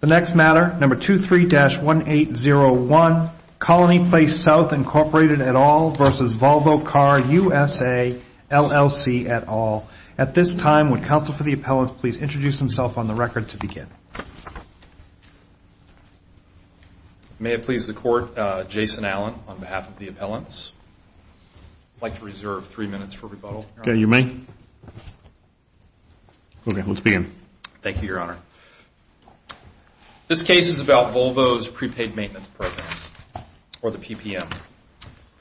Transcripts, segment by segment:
The next matter, number 23-1801, Colony Place South, Inc. et al. v. Volvo Car USA, LLC et al. At this time, would counsel for the appellants please introduce himself on the record to begin? May it please the court, Jason Allen on behalf of the appellants. I'd like to reserve three minutes for rebuttal. OK, you may. OK, let's begin. Thank you, Your Honor. This case is about Volvo's prepaid maintenance program, or the PPM,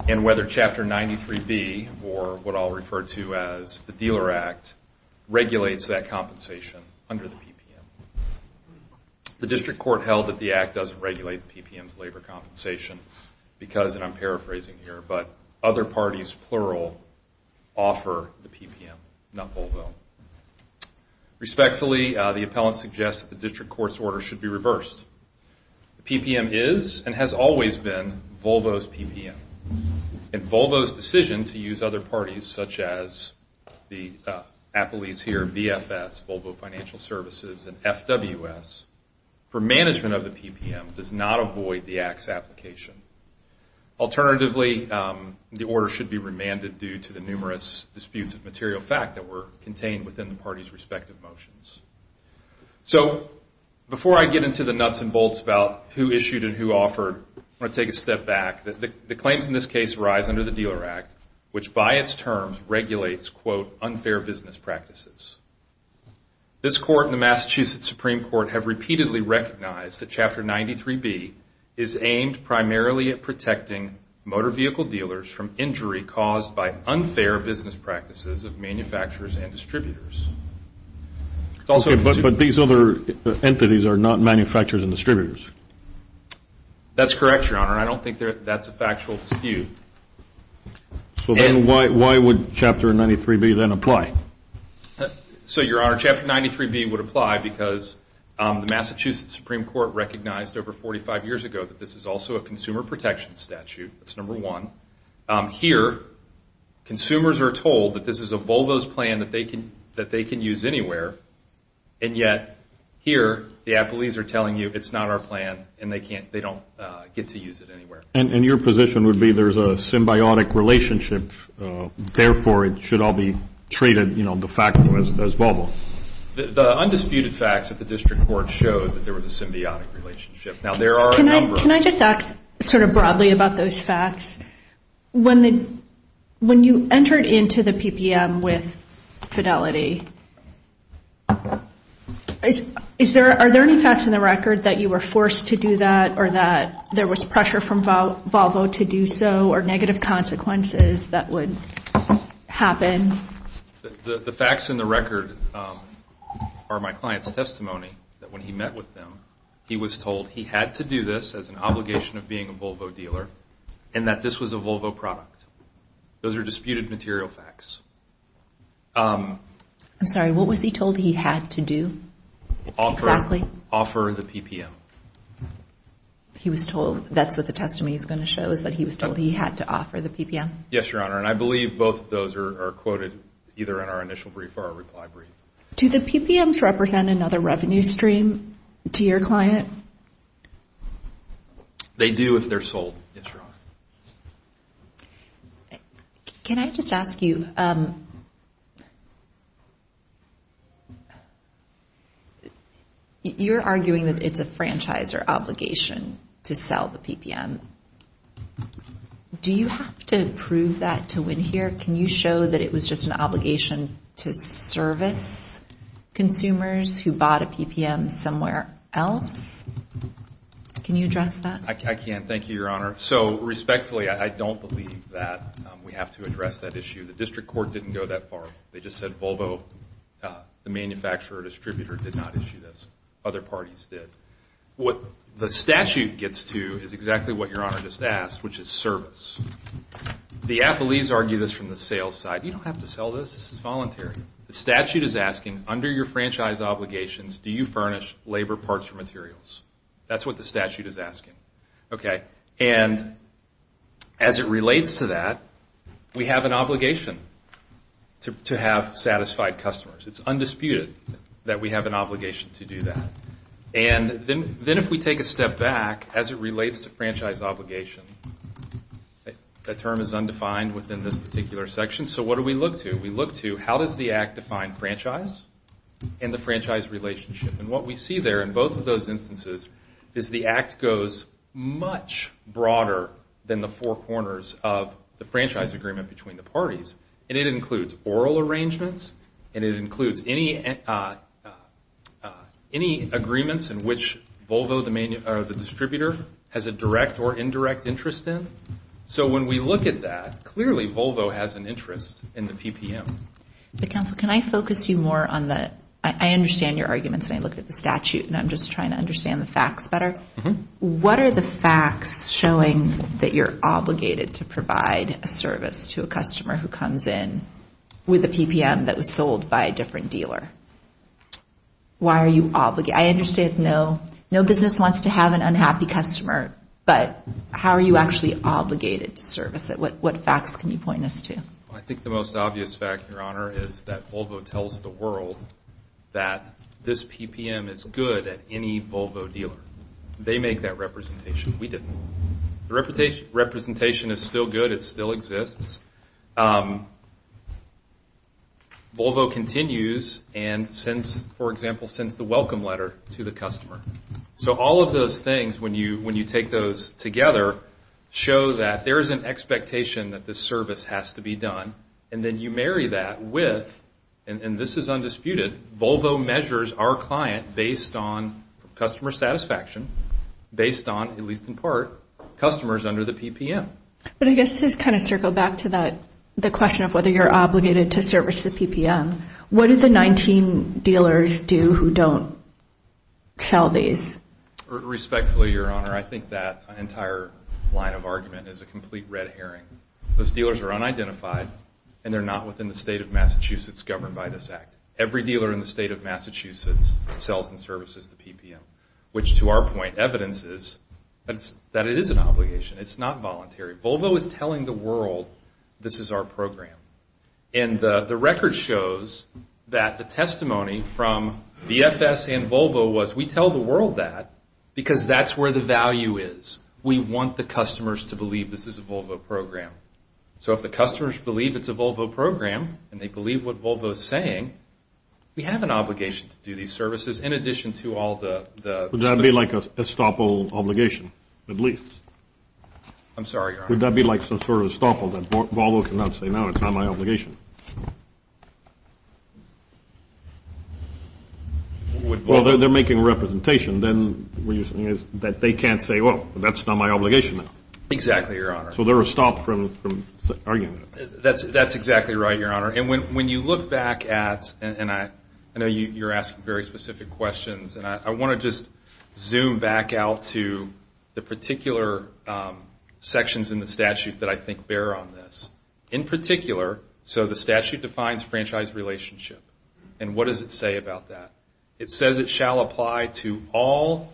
and whether Chapter 93B, or what I'll refer to as the Dealer Act, regulates that compensation under the PPM. The district court held that the act doesn't regulate the PPM's labor compensation because, and I'm paraphrasing here, but other parties, plural, offer the PPM, not Volvo. Respectfully, the appellant suggests that the district court's order should be reversed. The PPM is, and has always been, Volvo's PPM. And Volvo's decision to use other parties, such as the appellees here, VFS, Volvo Financial Services, and FWS, for management of the PPM does not avoid the act's application. Alternatively, the order should be remanded due to the numerous disputes of material fact that were contained within the parties' respective motions. So before I get into the nuts and bolts about who issued and who offered, I want to take a step back. The claims in this case rise under the Dealer Act, which by its terms regulates, quote, unfair business practices. This court and the Massachusetts Supreme Court have repeatedly recognized that Chapter 93B is aimed primarily at protecting motor vehicle dealers from injury caused by unfair business practices of manufacturers and distributors. But these other entities are not manufacturers and distributors. That's correct, Your Honor. I don't think that's a factual dispute. So then why would Chapter 93B then apply? So Your Honor, Chapter 93B would apply because the Massachusetts Supreme Court recognized over 45 years ago that this is also a consumer protection statute. That's number one. Here, consumers are told that this is a Volvo's plan that they can use anywhere. And yet, here, the appellees are telling you it's not our plan and they don't get to use it anywhere. And your position would be there's a symbiotic relationship, therefore, it should all be treated de facto as Volvo. The undisputed facts at the district court showed that there was a symbiotic relationship. Now, there are a number of them. Sort of broadly about those facts, when you entered into the PPM with Fidelity, are there any facts in the record that you were forced to do that or that there was pressure from Volvo to do so or negative consequences that would happen? The facts in the record are my client's testimony that when he met with them, he was told he had to do this as an obligation of being a Volvo dealer and that this was a Volvo product. Those are disputed material facts. I'm sorry. What was he told he had to do? Offer the PPM. He was told that's what the testimony is going to show, is that he was told he had to offer the PPM. Yes, Your Honor. And I believe both of those are quoted either in our initial brief or our reply brief. Do the PPMs represent another revenue stream to your client? They do if they're sold, Yes, Your Honor. Can I just ask you, you're arguing that it's a franchise or obligation to sell the PPM. Do you have to prove that to win here? Can you show that it was just an obligation to service consumers who bought a PPM somewhere else? Can you address that? I can. Thank you, Your Honor. So respectfully, I don't believe that we have to address that issue. The district court didn't go that far. They just said Volvo, the manufacturer or distributor, did not issue this. Other parties did. What the statute gets to is exactly what Your Honor just asked, which is service. The appellees argue this from the sales side. You don't have to sell this. This is voluntary. The statute is asking, under your franchise obligations, do you furnish labor parts or materials? That's what the statute is asking. And as it relates to that, we have an obligation to have satisfied customers. It's undisputed that we have an obligation to do that. And then if we take a step back, as it relates to franchise obligation, that term is undefined within this particular section. So what do we look to? We look to, how does the act define franchise and the franchise relationship? And what we see there in both of those instances is the act goes much broader than the four corners of the franchise agreement between the parties. And it includes oral arrangements. And it includes any agreements in which Volvo, the distributor, has a direct or indirect interest in. So when we look at that, clearly Volvo has an interest in the PPM. But counsel, can I focus you more on the, I understand your arguments and I looked at the statute and I'm just trying to understand the facts better. What are the facts showing that you're obligated to provide a service to a customer who comes in with a PPM that was sold by a different dealer? Why are you obligated? I understand no business wants to have an unhappy customer. But how are you actually obligated to service it? What facts can you point us to? I think the most obvious fact, Your Honor, is that Volvo tells the world that this PPM is good at any Volvo dealer. They make that representation. We didn't. The representation is still good. It still exists. Volvo continues. And for example, sends the welcome letter to the customer. So all of those things, when you take those together, show that there is an expectation that this service has to be done. And then you marry that with, and this is undisputed, Volvo measures our client based on customer satisfaction, based on, at least in part, customers under the PPM. But I guess just kind of circle back to the question of whether you're obligated to service the PPM. What do the 19 dealers do who don't sell these? Respectfully, Your Honor, I think that entire line of argument is a complete red herring. Those dealers are unidentified, and they're not within the state of Massachusetts governed by this act. Every dealer in the state of Massachusetts sells and services the PPM. Which to our point, evidence is that it is an obligation. It's not voluntary. Volvo is telling the world, this is our program. And the record shows that the testimony from VFS and Volvo was, we tell the world that, because that's where the value is. We want the customers to believe this is a Volvo program. So if the customers believe it's a Volvo program, and they believe what Volvo is saying, we have an obligation to do these services, in addition to all the- Would that be like a estoppel obligation, at least? I'm sorry, Your Honor. Would that be like some sort of estoppel, that Volvo cannot say, no, it's not my obligation? Well, they're making a representation. Then what you're saying is that they can't say, well, that's not my obligation now. Exactly, Your Honor. So they're estopped from arguing that. That's exactly right, Your Honor. And when you look back at, and I know you're asking very specific questions, and I want to just zoom back out to the particular sections in the statute that I think bear on this. In particular, so the statute defines franchise relationship. And what does it say about that? It says it shall apply to all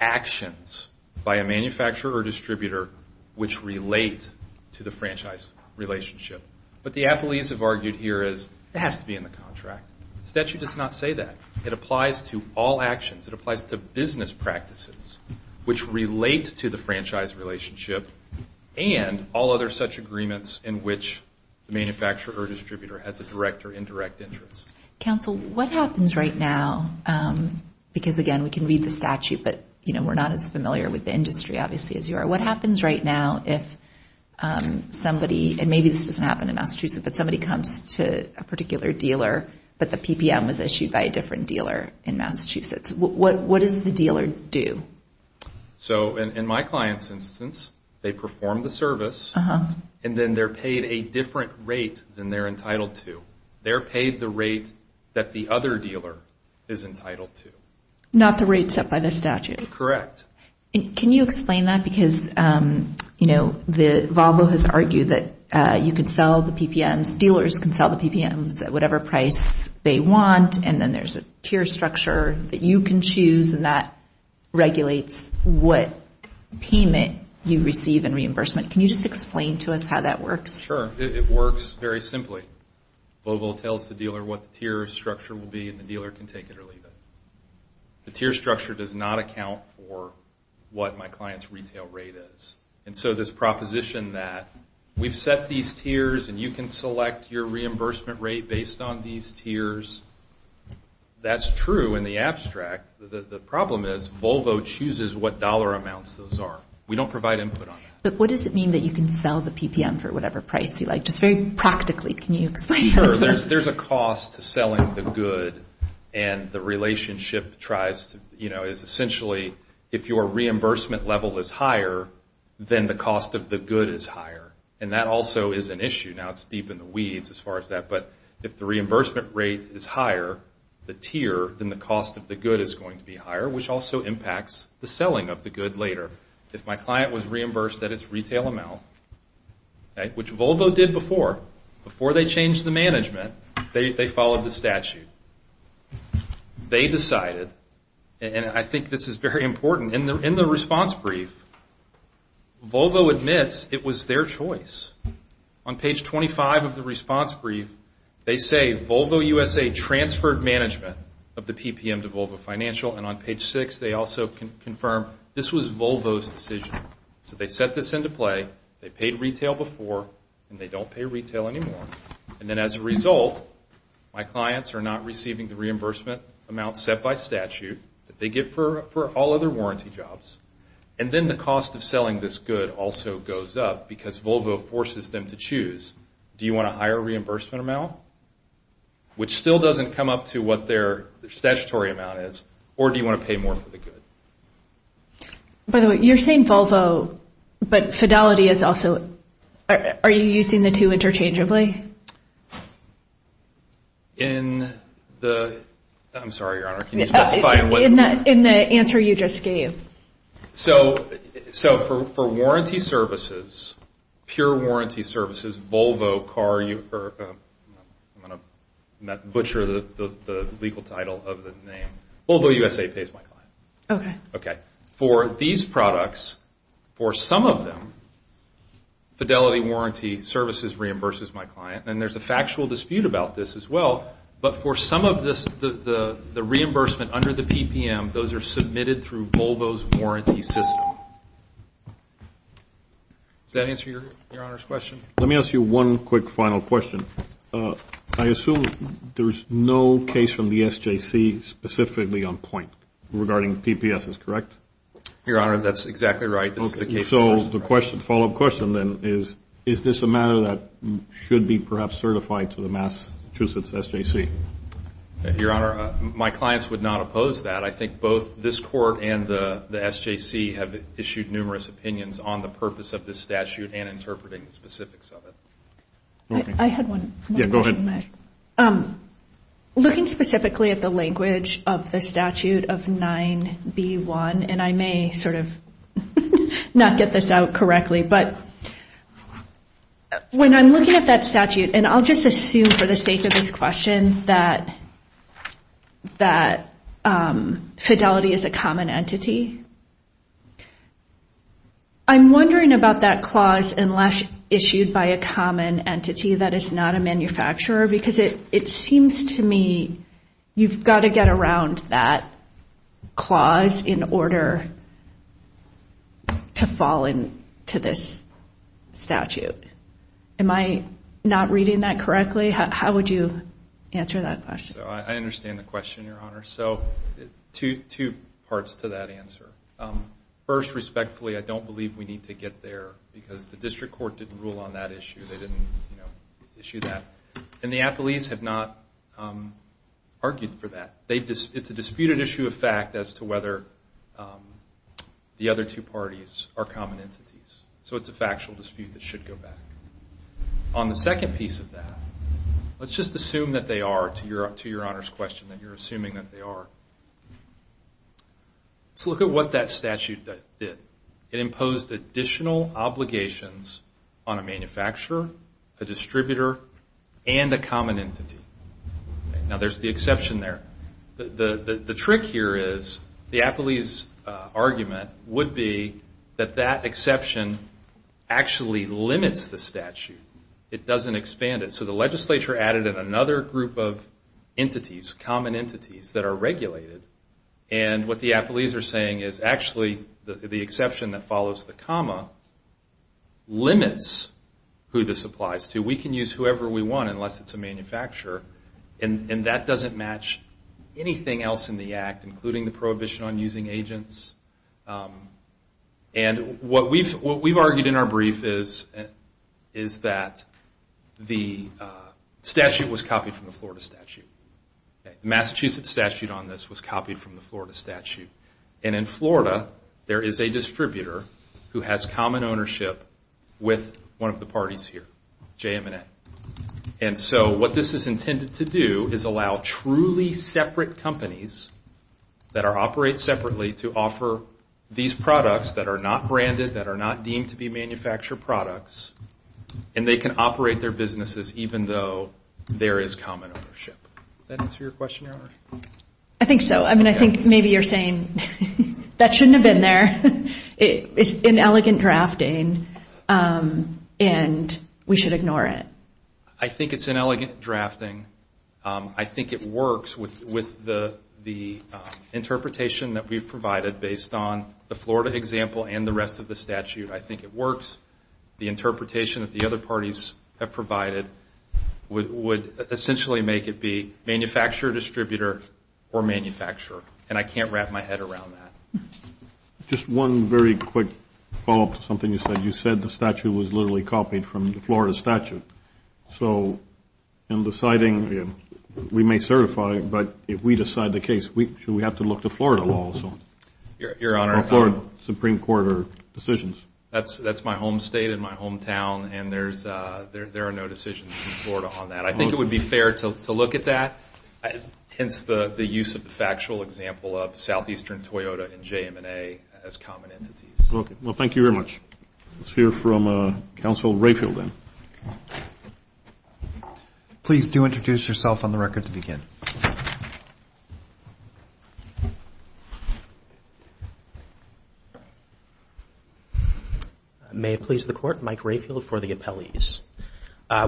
actions by a manufacturer or distributor which relate to the franchise relationship. What the appellees have argued here is it has to be in the contract. Statute does not say that. It applies to all actions. It applies to business practices which relate to the franchise relationship and all other such agreements in which the manufacturer or distributor has a direct or indirect interest. Counsel, what happens right now, because again, we can read the statute, but we're not as familiar with the industry, obviously, as you are. What happens right now if somebody, and maybe this doesn't happen in Massachusetts, but somebody comes to a particular dealer, but the PPM was issued by a different dealer in Massachusetts? What does the dealer do? So in my client's instance, they perform the service. And then they're paid a different rate than they're entitled to. They're paid the rate that the other dealer is entitled to. Not the rate set by the statute. Correct. Can you explain that? Because Volvo has argued that you can sell the PPMs, dealers can sell the PPMs at whatever price they want. And then there's a tier structure that you can choose, and that regulates what payment you receive in reimbursement. Can you just explain to us how that works? Sure. It works very simply. Volvo tells the dealer what the tier structure will be, and the dealer can take it or leave it. The tier structure does not account for what my client's retail rate is. And so this proposition that we've set these tiers, and you can select your reimbursement rate based on these tiers, that's true in the abstract. The problem is, Volvo chooses what dollar amounts those are. We don't provide input on that. But what does it mean that you can sell the PPMs for whatever price you like? Just very practically, can you explain that to us? Sure. There's a cost to selling the good. And the relationship tries to, you know, is essentially, if your reimbursement level is higher, then the cost of the good is higher. And that also is an issue. Now it's deep in the weeds as far as that. But if the reimbursement rate is higher, the tier, then the cost of the good is going to be higher, which also impacts the selling of the good later. If my client was reimbursed at its retail amount, which Volvo did before, before they changed the management, they followed the statute. They decided, and I think this is very important, in the response brief, Volvo admits it was their choice. On page 25 of the response brief, they say, Volvo USA transferred management of the PPM to Volvo Financial. And on page 6, they also confirm this was Volvo's decision. So they set this into play. They paid retail before. And they don't pay retail anymore. And then as a result, my clients are not receiving the reimbursement amount set by statute that they get for all other warranty jobs. And then the cost of selling this good also goes up, because Volvo forces them to choose. Do you want a higher reimbursement amount? Which still doesn't come up to what their statutory amount is. Or do you want to pay more for the good? By the way, you're saying Volvo, but Fidelity is also, are you using the two interchangeably? In the, I'm sorry, Your Honor, can you specify in what? In the answer you just gave. So for warranty services, pure warranty services, Volvo car, I'm going to butcher the legal title of the name. Volvo USA pays my client. For these products, for some of them, Fidelity warranty services reimburses my client. And there's a factual dispute about this as well. But for some of this, the reimbursement under the PPM, those are submitted through Volvo's warranty system. Does that answer Your Honor's question? Let me ask you one quick final question. I assume there is no case from the SJC specifically on point regarding PPS, is correct? Your Honor, that's exactly right. So the follow-up question then is, is this a matter that should be perhaps certified to the Massachusetts SJC? Your Honor, my clients would not oppose that. But I think both this court and the SJC have issued numerous opinions on the purpose of this statute and interpreting the specifics of it. I had one more question. Looking specifically at the language of the statute of 9B1, and I may sort of not get this out correctly, but when I'm looking at that statute, and I'll just assume for the sake of this question that fidelity is a common entity, I'm wondering about that clause, unless issued by a common entity that is not a manufacturer. Because it seems to me you've got to get around that clause in order to fall into this statute. Am I not reading that correctly? How would you answer that question? I understand the question, Your Honor. So two parts to that answer. First, respectfully, I don't believe we need to get there, because the district court didn't rule on that issue. They didn't issue that. And the athletes have not argued for that. It's a disputed issue of fact as to whether the other two parties are common entities. So it's a factual dispute that should go back. On the second piece of that, let's just assume that they are, to Your Honor's question, that you're assuming that they are. Let's look at what that statute did. It imposed additional obligations on a manufacturer, a distributor, and a common entity. Now, there's the exception there. The trick here is the athlete's argument would be that that exception actually limits the statute. It doesn't expand it. So the legislature added in another group of entities, common entities, that are regulated. And what the athletes are saying is, actually, the exception that follows the comma limits who this applies to. We can use whoever we want, unless it's a manufacturer. And that doesn't match anything else in the act, including the prohibition on using agents. And what we've argued in our brief is that the statute was copied from the Florida statute. Massachusetts statute on this was copied from the Florida statute. And in Florida, there is a distributor who has common ownership with one of the parties here, JM&A. And so what this is intended to do is allow truly separate companies that operate separately to offer these products that are not branded, that are not deemed to be manufactured products. And they can operate their businesses, even though there is common ownership. Does that answer your question, Your Honor? I think so. I mean, I think maybe you're saying, that shouldn't have been there. It's inelegant drafting. And we should ignore it. I think it's inelegant drafting. I think it works with the interpretation that we've provided based on the Florida example and the rest of the statute. I think it works. The interpretation that the other parties have provided would essentially make it be manufacturer, distributor, or manufacturer. And I can't wrap my head around that. Just one very quick follow-up to something you said. You said the statute was literally copied from the Florida statute. So in deciding, we may certify. But if we decide the case, should we have to look to Florida law also? Your Honor, that's my home state and my hometown. And there are no decisions in Florida on that. I think it would be fair to look at that, hence the use of the factual example of Southeastern Toyota and JM&A as common entities. Well, thank you very much. Let's hear from Counsel Rayfield, then. Please do introduce yourself on the record to begin. May it please the Court, Mike Rayfield for the appellees.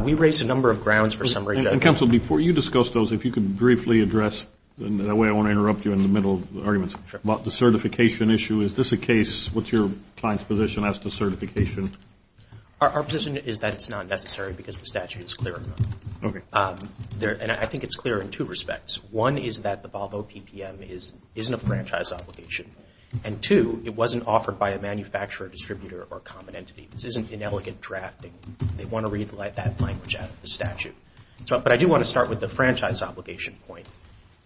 We raised a number of grounds for summary judgment. Counsel, before you discuss those, if you could briefly address, and that way I won't interrupt you in the middle of the arguments, about the certification issue. Is this a case, what's your client's position as to certification? Our position is that it's not necessary, because the statute is clear enough. And I think it's clear in two respects. One is that the Volvo PPM isn't a franchise obligation. And two, it wasn't offered by a manufacturer, distributor, or common entity. This isn't inelegant drafting. They want to read that language out of the statute. But I do want to start with the franchise obligation point.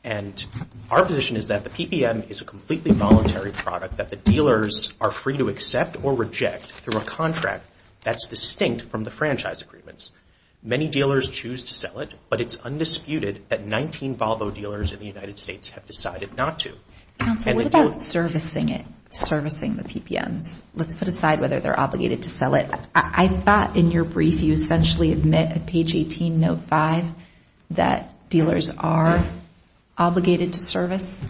And our position is that the PPM is a completely voluntary product that the dealers are free to accept or reject through a contract that's distinct from the franchise agreements. Many dealers choose to sell it, but it's undisputed that 19 Volvo dealers in the United States have decided not to. Counsel, what about servicing it, servicing the PPMs? Let's put aside whether they're obligated to sell it. I thought in your brief, you essentially admit at page 18, note 5, that dealers are obligated to service.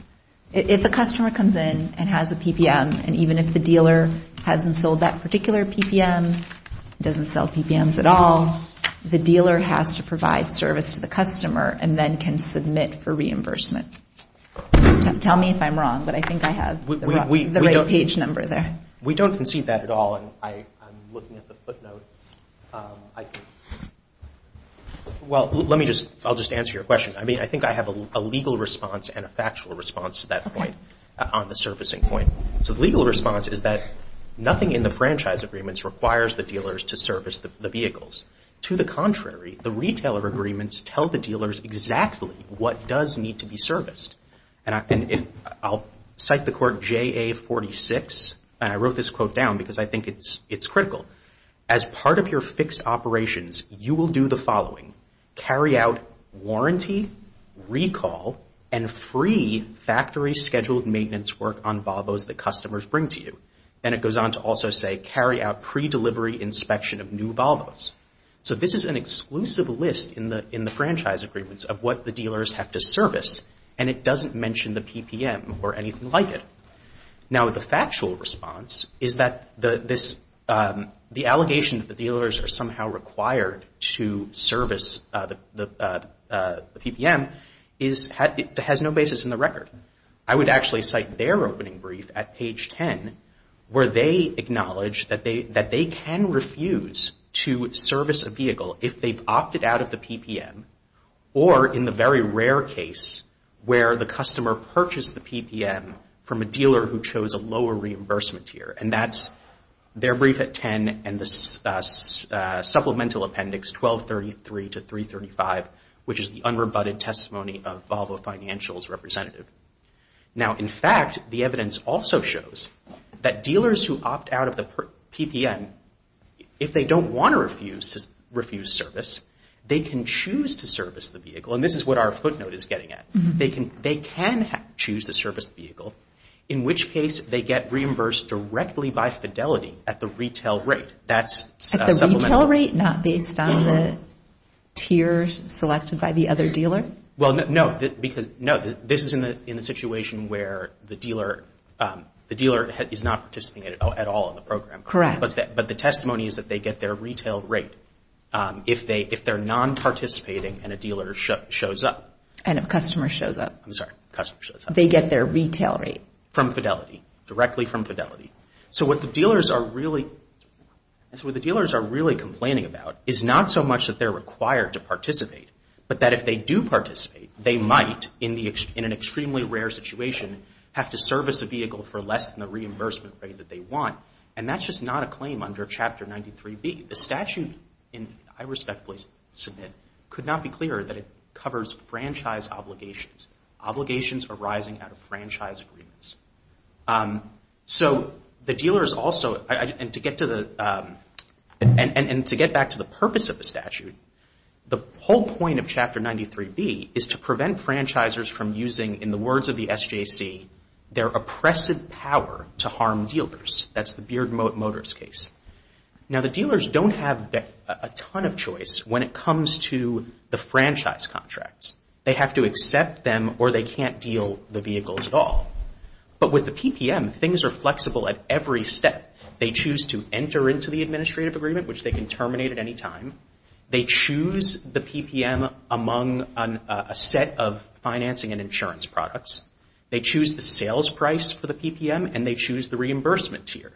If a customer comes in and has a PPM, and even if the dealer hasn't sold that particular PPM, doesn't sell PPMs at all, the dealer has to provide service to the customer and then can submit for reimbursement. Tell me if I'm wrong, but I think I have the right page number there. We don't concede that at all. And I'm looking at the footnotes. Well, let me just answer your question. I mean, I think I have a legal response and a factual response to that point on the servicing point. So the legal response is that nothing in the franchise agreements requires the dealers to service the vehicles. To the contrary, the retailer agreements tell the dealers exactly what does need to be serviced. And I'll cite the court JA 46. And I wrote this quote down because I think it's critical. As part of your fixed operations, you will do the following. Carry out warranty, recall, and free factory scheduled maintenance work on Volvos that customers bring to you. And it goes on to also say, carry out pre-delivery inspection of new Volvos. So this is an exclusive list in the franchise agreements of what the dealers have to service. And it doesn't mention the PPM or anything like it. Now, the factual response is that the allegation that the dealers are somehow required to service the PPM has no basis in the record. I would actually cite their opening brief at page 10, where they acknowledge that they can refuse to service a vehicle if they've opted out of the PPM, or in the very rare case where the customer purchased the PPM from a dealer who chose a lower reimbursement tier. And that's their brief at 10 and the supplemental appendix 1233 to 335, which is the unrebutted testimony of Volvo financials representative. Now, in fact, the evidence also shows that dealers who opt out of the PPM, if they don't want to refuse service, they can choose to service the vehicle. And this is what our footnote is getting at. They can choose to service the vehicle, in which case they get reimbursed directly by Fidelity at the retail rate. That's supplementary. At the retail rate, not based on the tiers selected by the other dealer? Well, no, because no, this is in the situation where the dealer is not participating at all in the program. Correct. But the testimony is that they get their retail rate if they're non-participating and a dealer shows up. And a customer shows up. I'm sorry, customer shows up. They get their retail rate. From Fidelity, directly from Fidelity. So what the dealers are really complaining about is not so much that they're required to participate, but that if they do participate, they might, in an extremely rare situation, have to service a vehicle for less than the reimbursement rate that they want. And that's just not a claim under Chapter 93B. The statute, I respectfully submit, could not be clearer that it covers franchise obligations. Obligations arising out of franchise agreements. So the dealers also, and to get back to the purpose of the statute, the whole point of Chapter 93B is to prevent franchisers from using, in the words of the SJC, their oppressive power to harm dealers. That's the Beard Motors case. Now, the dealers don't have a ton of choice when it comes to the franchise contracts. They have to accept them, or they can't deal the vehicles at all. But with the PPM, things are flexible at every step. They choose to enter into the administrative agreement, which they can terminate at any time. They choose the PPM among a set of financing and insurance products. They choose the sales price for the PPM, and they choose the reimbursement tier.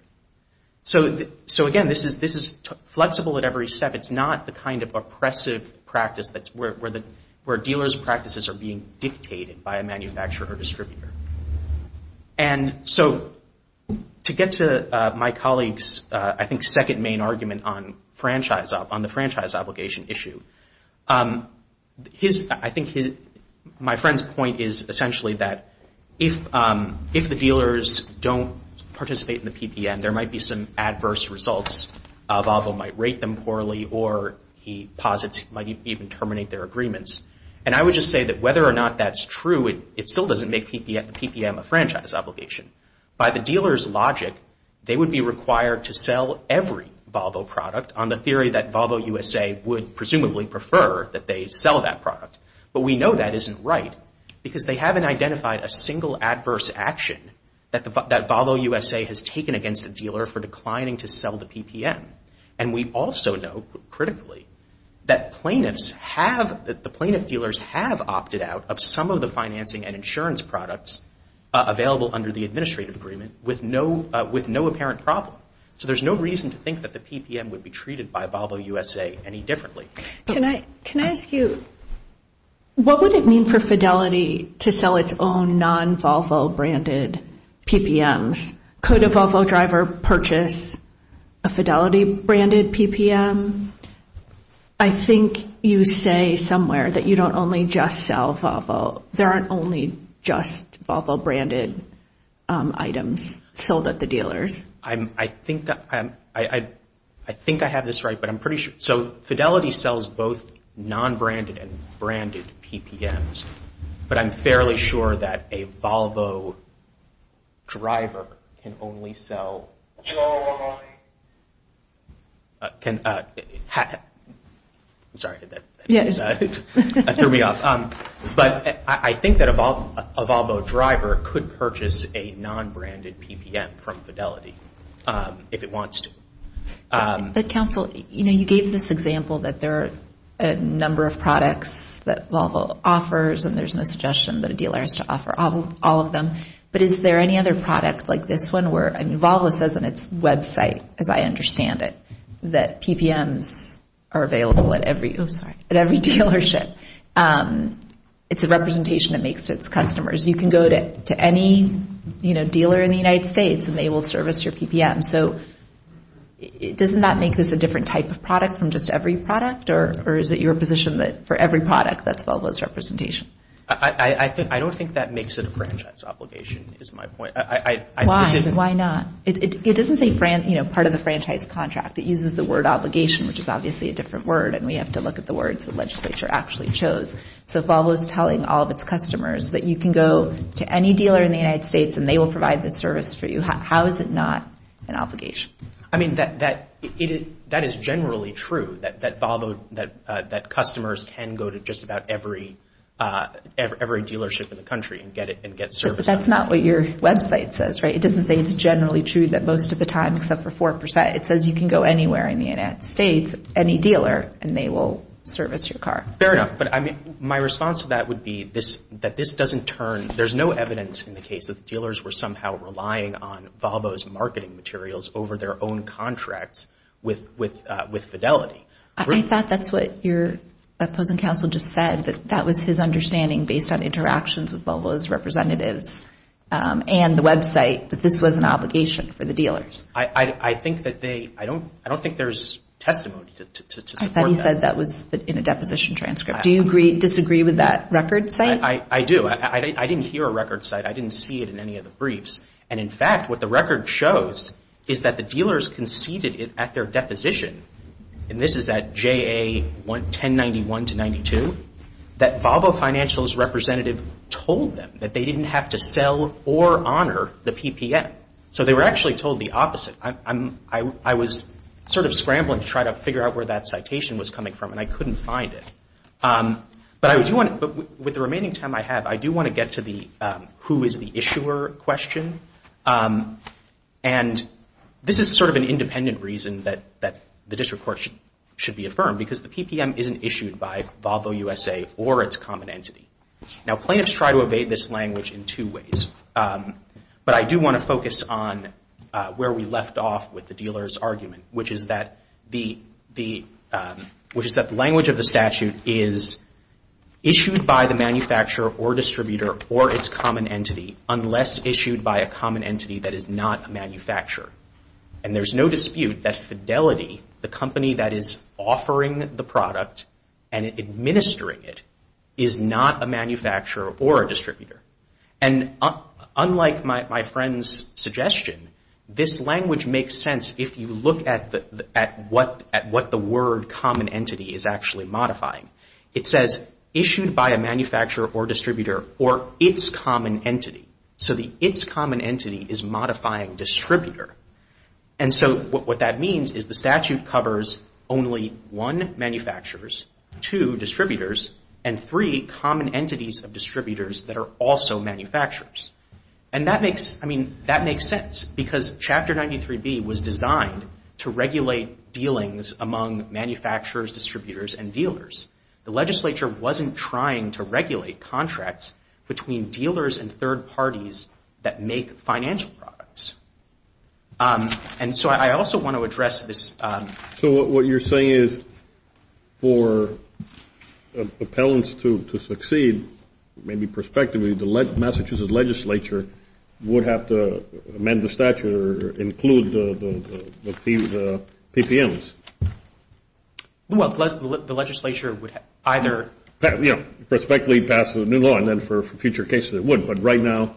So again, this is flexible at every step. It's not the kind of oppressive practice that's where dealers' practices are being dictated by a manufacturer or distributor. And so to get to my colleague's, I think, second main argument on the franchise obligation issue, I think my friend's point is essentially that if the dealers don't participate in the PPM, there might be some adverse results. Volvo might rate them poorly, or he posits he might even terminate their agreements. And I would just say that whether or not that's true, it still doesn't make the PPM a franchise obligation. By the dealer's logic, they would be required to sell every Volvo product on the theory that Volvo USA would presumably prefer that they sell that product. But we know that isn't right, because they haven't identified a single adverse action that Volvo USA has taken against the dealer for declining to sell the PPM. And we also know, critically, that the plaintiff dealers have opted out of some of the financing and insurance products available under the administrative agreement with no apparent problem. So there's no reason to think that the PPM would be treated by Volvo USA any differently. Can I ask you, what would it mean for Fidelity to sell its own non-Volvo branded PPMs? Could a Volvo driver purchase a Fidelity branded PPM? I think you say somewhere that you don't only just sell Volvo. There aren't only just Volvo branded items sold at the dealer's. I think I have this right, but I'm pretty sure. So Fidelity sells both non-branded and branded PPMs. But I'm fairly sure that a Volvo driver can only sell. Your money. Can, I'm sorry, that threw me off. But I think that a Volvo driver could purchase a non-branded PPM from Fidelity if it wants to. But counsel, you gave this example that there are a number of products that Volvo offers, and there's no suggestion that a dealer has to offer all of them. But is there any other product like this one where, I mean, Volvo says on its website, as I understand it, that PPMs are available at every dealership? It's a representation it makes to its customers. You can go to any dealer in the United States, and they will service your PPM. So doesn't that make this a different type of product from just every product? Or is it your position that for every product, that's Volvo's representation? I don't think that makes it a franchise obligation, is my point. Why? Why not? It doesn't say part of the franchise contract. It uses the word obligation, which is obviously a different word. And we have to look at the words the legislature actually chose. So Volvo is telling all of its customers that you can go to any dealer in the United States, and they will provide this service for you. How is it not an obligation? I mean, that is generally true, that Volvo, that customers can go to just about every dealership in the country and get services. But that's not what your website says, right? It doesn't say it's generally true that most of the time, except for 4%, it says you can go anywhere in the United States, any dealer, and they will service your car. Fair enough. But my response to that would be that this doesn't turn, there's no evidence in the case that dealers were somehow relying on Volvo's marketing materials over their own contracts with Fidelity. I thought that's what your opposing counsel just said, that that was his understanding based on interactions with Volvo's representatives and the website, that this was an obligation for the dealers. I think that they, I don't think there's testimony to support that. I thought he said that was in a deposition transcript. Do you disagree with that record site? I do. I didn't hear a record site. I didn't see it in any of the briefs. And in fact, what the record shows is that the dealers conceded at their deposition, and this is at JA 1091 to 92, that Volvo Financial's representative told them that they didn't have to sell or honor the PPM. So they were actually told the opposite. I was sort of scrambling to try to figure out where that citation was coming from, and I couldn't find it. But with the remaining time I have, I do want to get to the who is the issuer question. And this is sort of an independent reason that the district court should be affirmed, because the PPM isn't issued by Volvo USA or its common entity. Now, plaintiffs try to evade this language in two ways. But I do want to focus on where we left off with the dealer's argument, which is that the language of the statute is issued by the manufacturer or distributor or its common entity, unless issued by a common entity that is not a manufacturer. And there's no dispute that Fidelity, the company that is offering the product and administering it, is not a manufacturer or a distributor. And unlike my friend's suggestion, this language makes sense if you look at what the word common entity is actually modifying. It says issued by a manufacturer or distributor or its common entity. So the its common entity is modifying distributor. And so what that means is the statute covers only one, manufacturers, two, distributors, and three, common entities of distributors that are also manufacturers. And that makes sense, because Chapter 93B was designed to regulate dealings among manufacturers, distributors, and dealers. The legislature wasn't trying to regulate contracts between dealers and third parties that make financial products. And so I also want to address this. So what you're saying is for appellants to succeed, maybe prospectively, the Massachusetts legislature would have to amend the statute or include the PPMs. Well, the legislature would either prospectively pass a new law, and then for future cases, it would. But right now,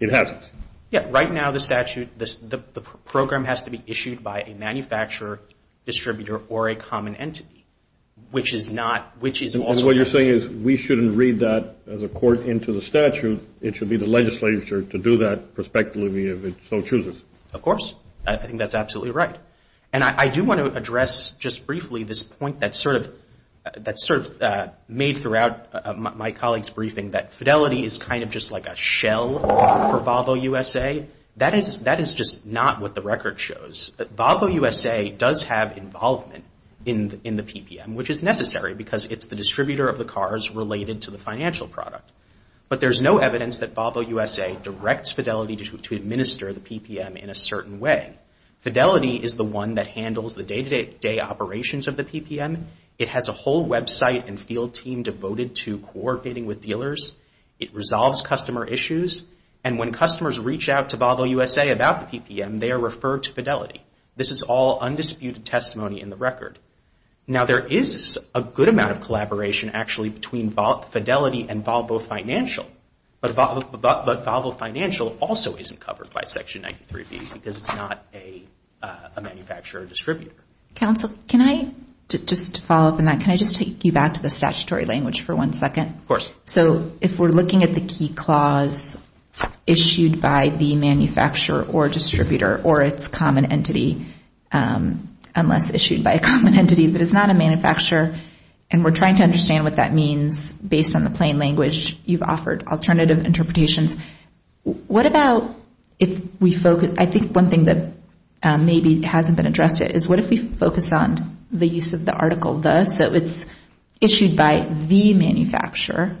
it hasn't. Yeah, right now the statute, the program has to be issued by a manufacturer, distributor, or a common entity, which is not, which is also not. My point is we shouldn't read that as a court into the statute. It should be the legislature to do that prospectively if it so chooses. Of course. I think that's absolutely right. And I do want to address just briefly this point that's sort of made throughout my colleague's briefing, that fidelity is kind of just like a shell for Volvo USA. That is just not what the record shows. Volvo USA does have involvement in the PPM, which is necessary, because it's the distributor of the cars related to the financial product. But there's no evidence that Volvo USA directs fidelity to administer the PPM in a certain way. Fidelity is the one that handles the day-to-day operations of the PPM. It has a whole website and field team devoted to coordinating with dealers. It resolves customer issues. And when customers reach out to Volvo USA about the PPM, they are referred to Fidelity. This is all undisputed testimony in the record. Now, there is a good amount of collaboration, actually, between Fidelity and Volvo Financial. But Volvo Financial also isn't covered by Section 93B, because it's not a manufacturer or distributor. Counsel, can I just follow up on that? Can I just take you back to the statutory language for one second? Of course. So if we're looking at the key clause issued by the manufacturer or distributor, or it's a common entity, unless issued by a common entity, but it's not a manufacturer, and we're trying to understand what that means based on the plain language you've offered, alternative interpretations, what about if we focus? I think one thing that maybe hasn't been addressed is, what if we focus on the use of the article, the? So it's issued by the manufacturer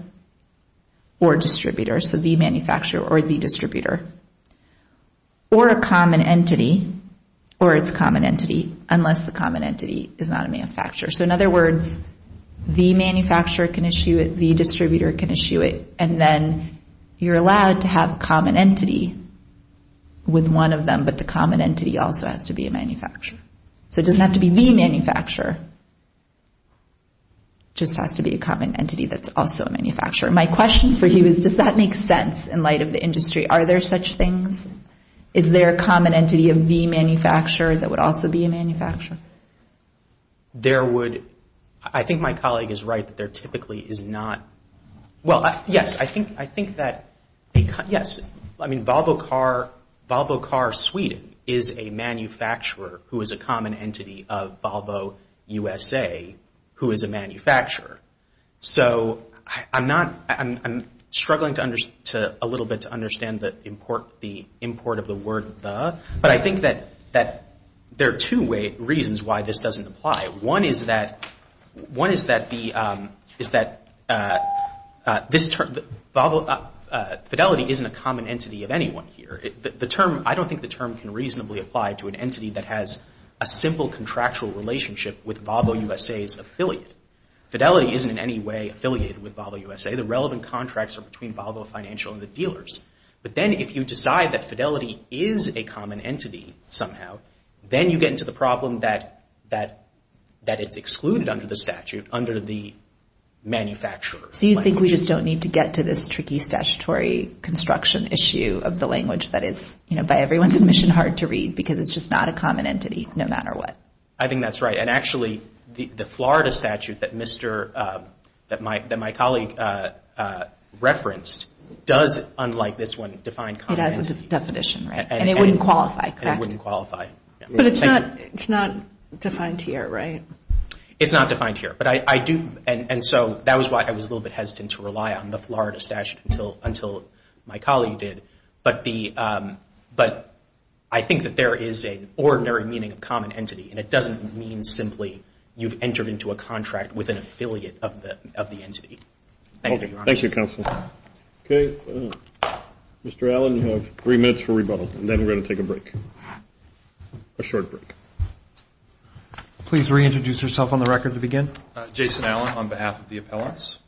or distributor. So the manufacturer or the distributor. Or a common entity, or it's a common entity, unless the common entity is not a manufacturer. So in other words, the manufacturer can issue it, the distributor can issue it, and then you're allowed to have a common entity with one of them, but the common entity also has to be a manufacturer. So it doesn't have to be the manufacturer. Just has to be a common entity that's also a manufacturer. My question for you is, does that make sense in light of the industry? Are there such things? Is there a common entity of the manufacturer that would also be a manufacturer? There would. I think my colleague is right, that there typically is not. Well, yes, I think that, yes. I mean, Volvo Car Sweden is a manufacturer who is a common entity of Volvo USA, who is a manufacturer. So I'm struggling a little bit to understand the import of the word the, but I think that there are two reasons why this doesn't apply. One is that this term, Fidelity, isn't a common entity of anyone here. I don't think the term can reasonably apply to an entity that has a simple contractual relationship with Volvo USA's affiliate. Fidelity isn't in any way affiliated with Volvo USA. The relevant contracts are between Volvo Financial and the dealers. But then if you decide that Fidelity is a common entity somehow, then you get into the problem that it's excluded under the statute, under the manufacturer. So you think we just don't need to get to this tricky statutory construction issue of the language that is, by everyone's admission, hard to read, because it's just not a common entity, no matter what. I think that's right. And actually, the Florida statute that my colleague referenced does, unlike this one, define common entity. It has a definition, right? And it wouldn't qualify, correct? And it wouldn't qualify. But it's not defined here, right? It's not defined here. And so that was why I was a little bit hesitant to rely on the Florida statute until my colleague did. But I think that there is an ordinary meaning of common entity. And it doesn't mean simply you've entered into a contract with an affiliate of the entity. Thank you, Your Honor. Thank you, Counsel. OK. Mr. Allen, you have three minutes for rebuttal. And then we're going to take a break, a short break. Please reintroduce yourself on the record to begin. Jason Allen, on behalf of the appellants.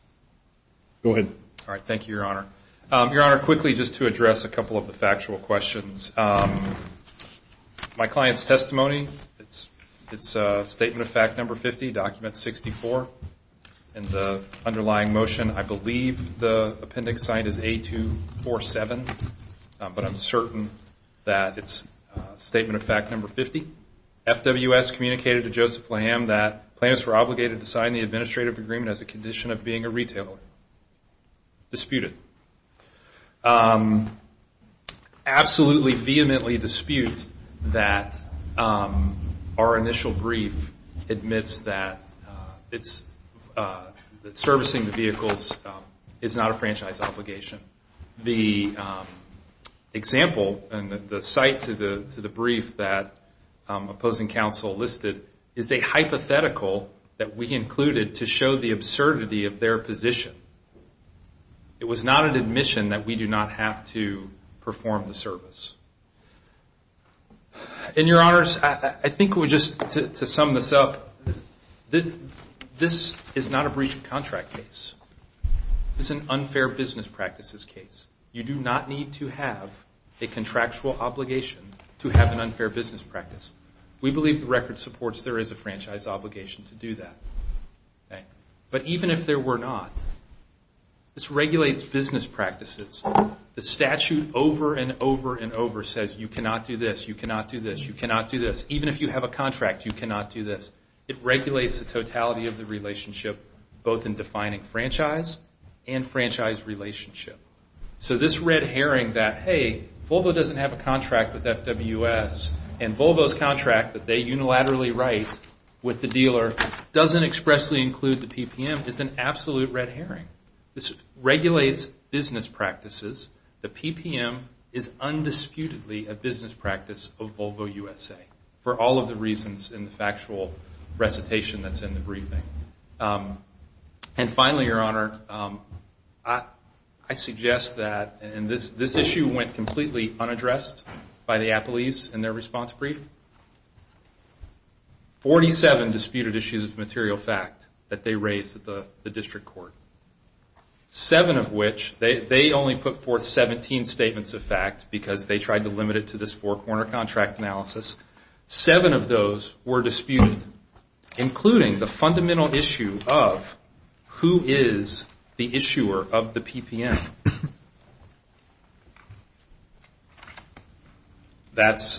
Go ahead. All right, thank you, Your Honor. Your Honor, quickly, just to address a couple of the factual questions. My client's testimony, it's Statement of Fact Number 50, Document 64. And the underlying motion, I believe the appendix signed is A247. But I'm certain that it's Statement of Fact Number 50. FWS communicated to Joseph Lamb that plaintiffs were obligated to sign the administrative agreement as a condition of being a retailer. Disputed. Absolutely, vehemently dispute that our initial brief admits that servicing the vehicles is not a franchise obligation. The example and the site to the brief that opposing counsel listed is a hypothetical that we included to show the absurdity of their position. It was not an admission that we do not have to perform the service. And, Your Honors, I think we just, to sum this up, this is not a breach of contract case. It's an unfair business practices case. You do not need to have a contractual obligation to have an unfair business practice. We believe the record supports there is a franchise obligation to do that. But even if there were not, this regulates business practices. The statute over and over and over says you cannot do this, you cannot do this, you cannot do this. Even if you have a contract, you cannot do this. It regulates the totality of the relationship, both in defining franchise and franchise relationship. So this red herring that, hey, Volvo doesn't have a contract with FWS, and Volvo's contract that they unilaterally write with the dealer doesn't expressly include the PPM is an absolute red herring. This regulates business practices. The PPM is undisputedly a business practice of Volvo USA, for all of the reasons in the factual recitation that's in the briefing. And finally, Your Honor, I suggest that, and this issue went completely unaddressed by the appellees in their response brief. 47 disputed issues of material fact that they raised at the district court. Seven of which, they only put forth 17 statements of fact, because they tried to limit it to this four-corner contract analysis. Seven of those were disputed, including the fundamental issue of who is the issuer of the PPM. That's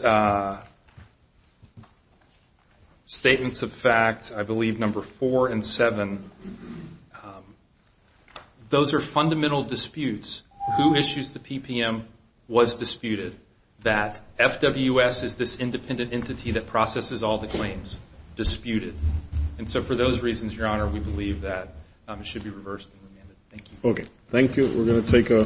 statements of fact, I believe, number four and seven. Those are fundamental disputes. Who issues the PPM was disputed. That FWS is this independent entity that processes all the claims, disputed. And so for those reasons, Your Honor, we believe that it should be reversed and remanded. Thank you. OK, thank you. We're going to take a.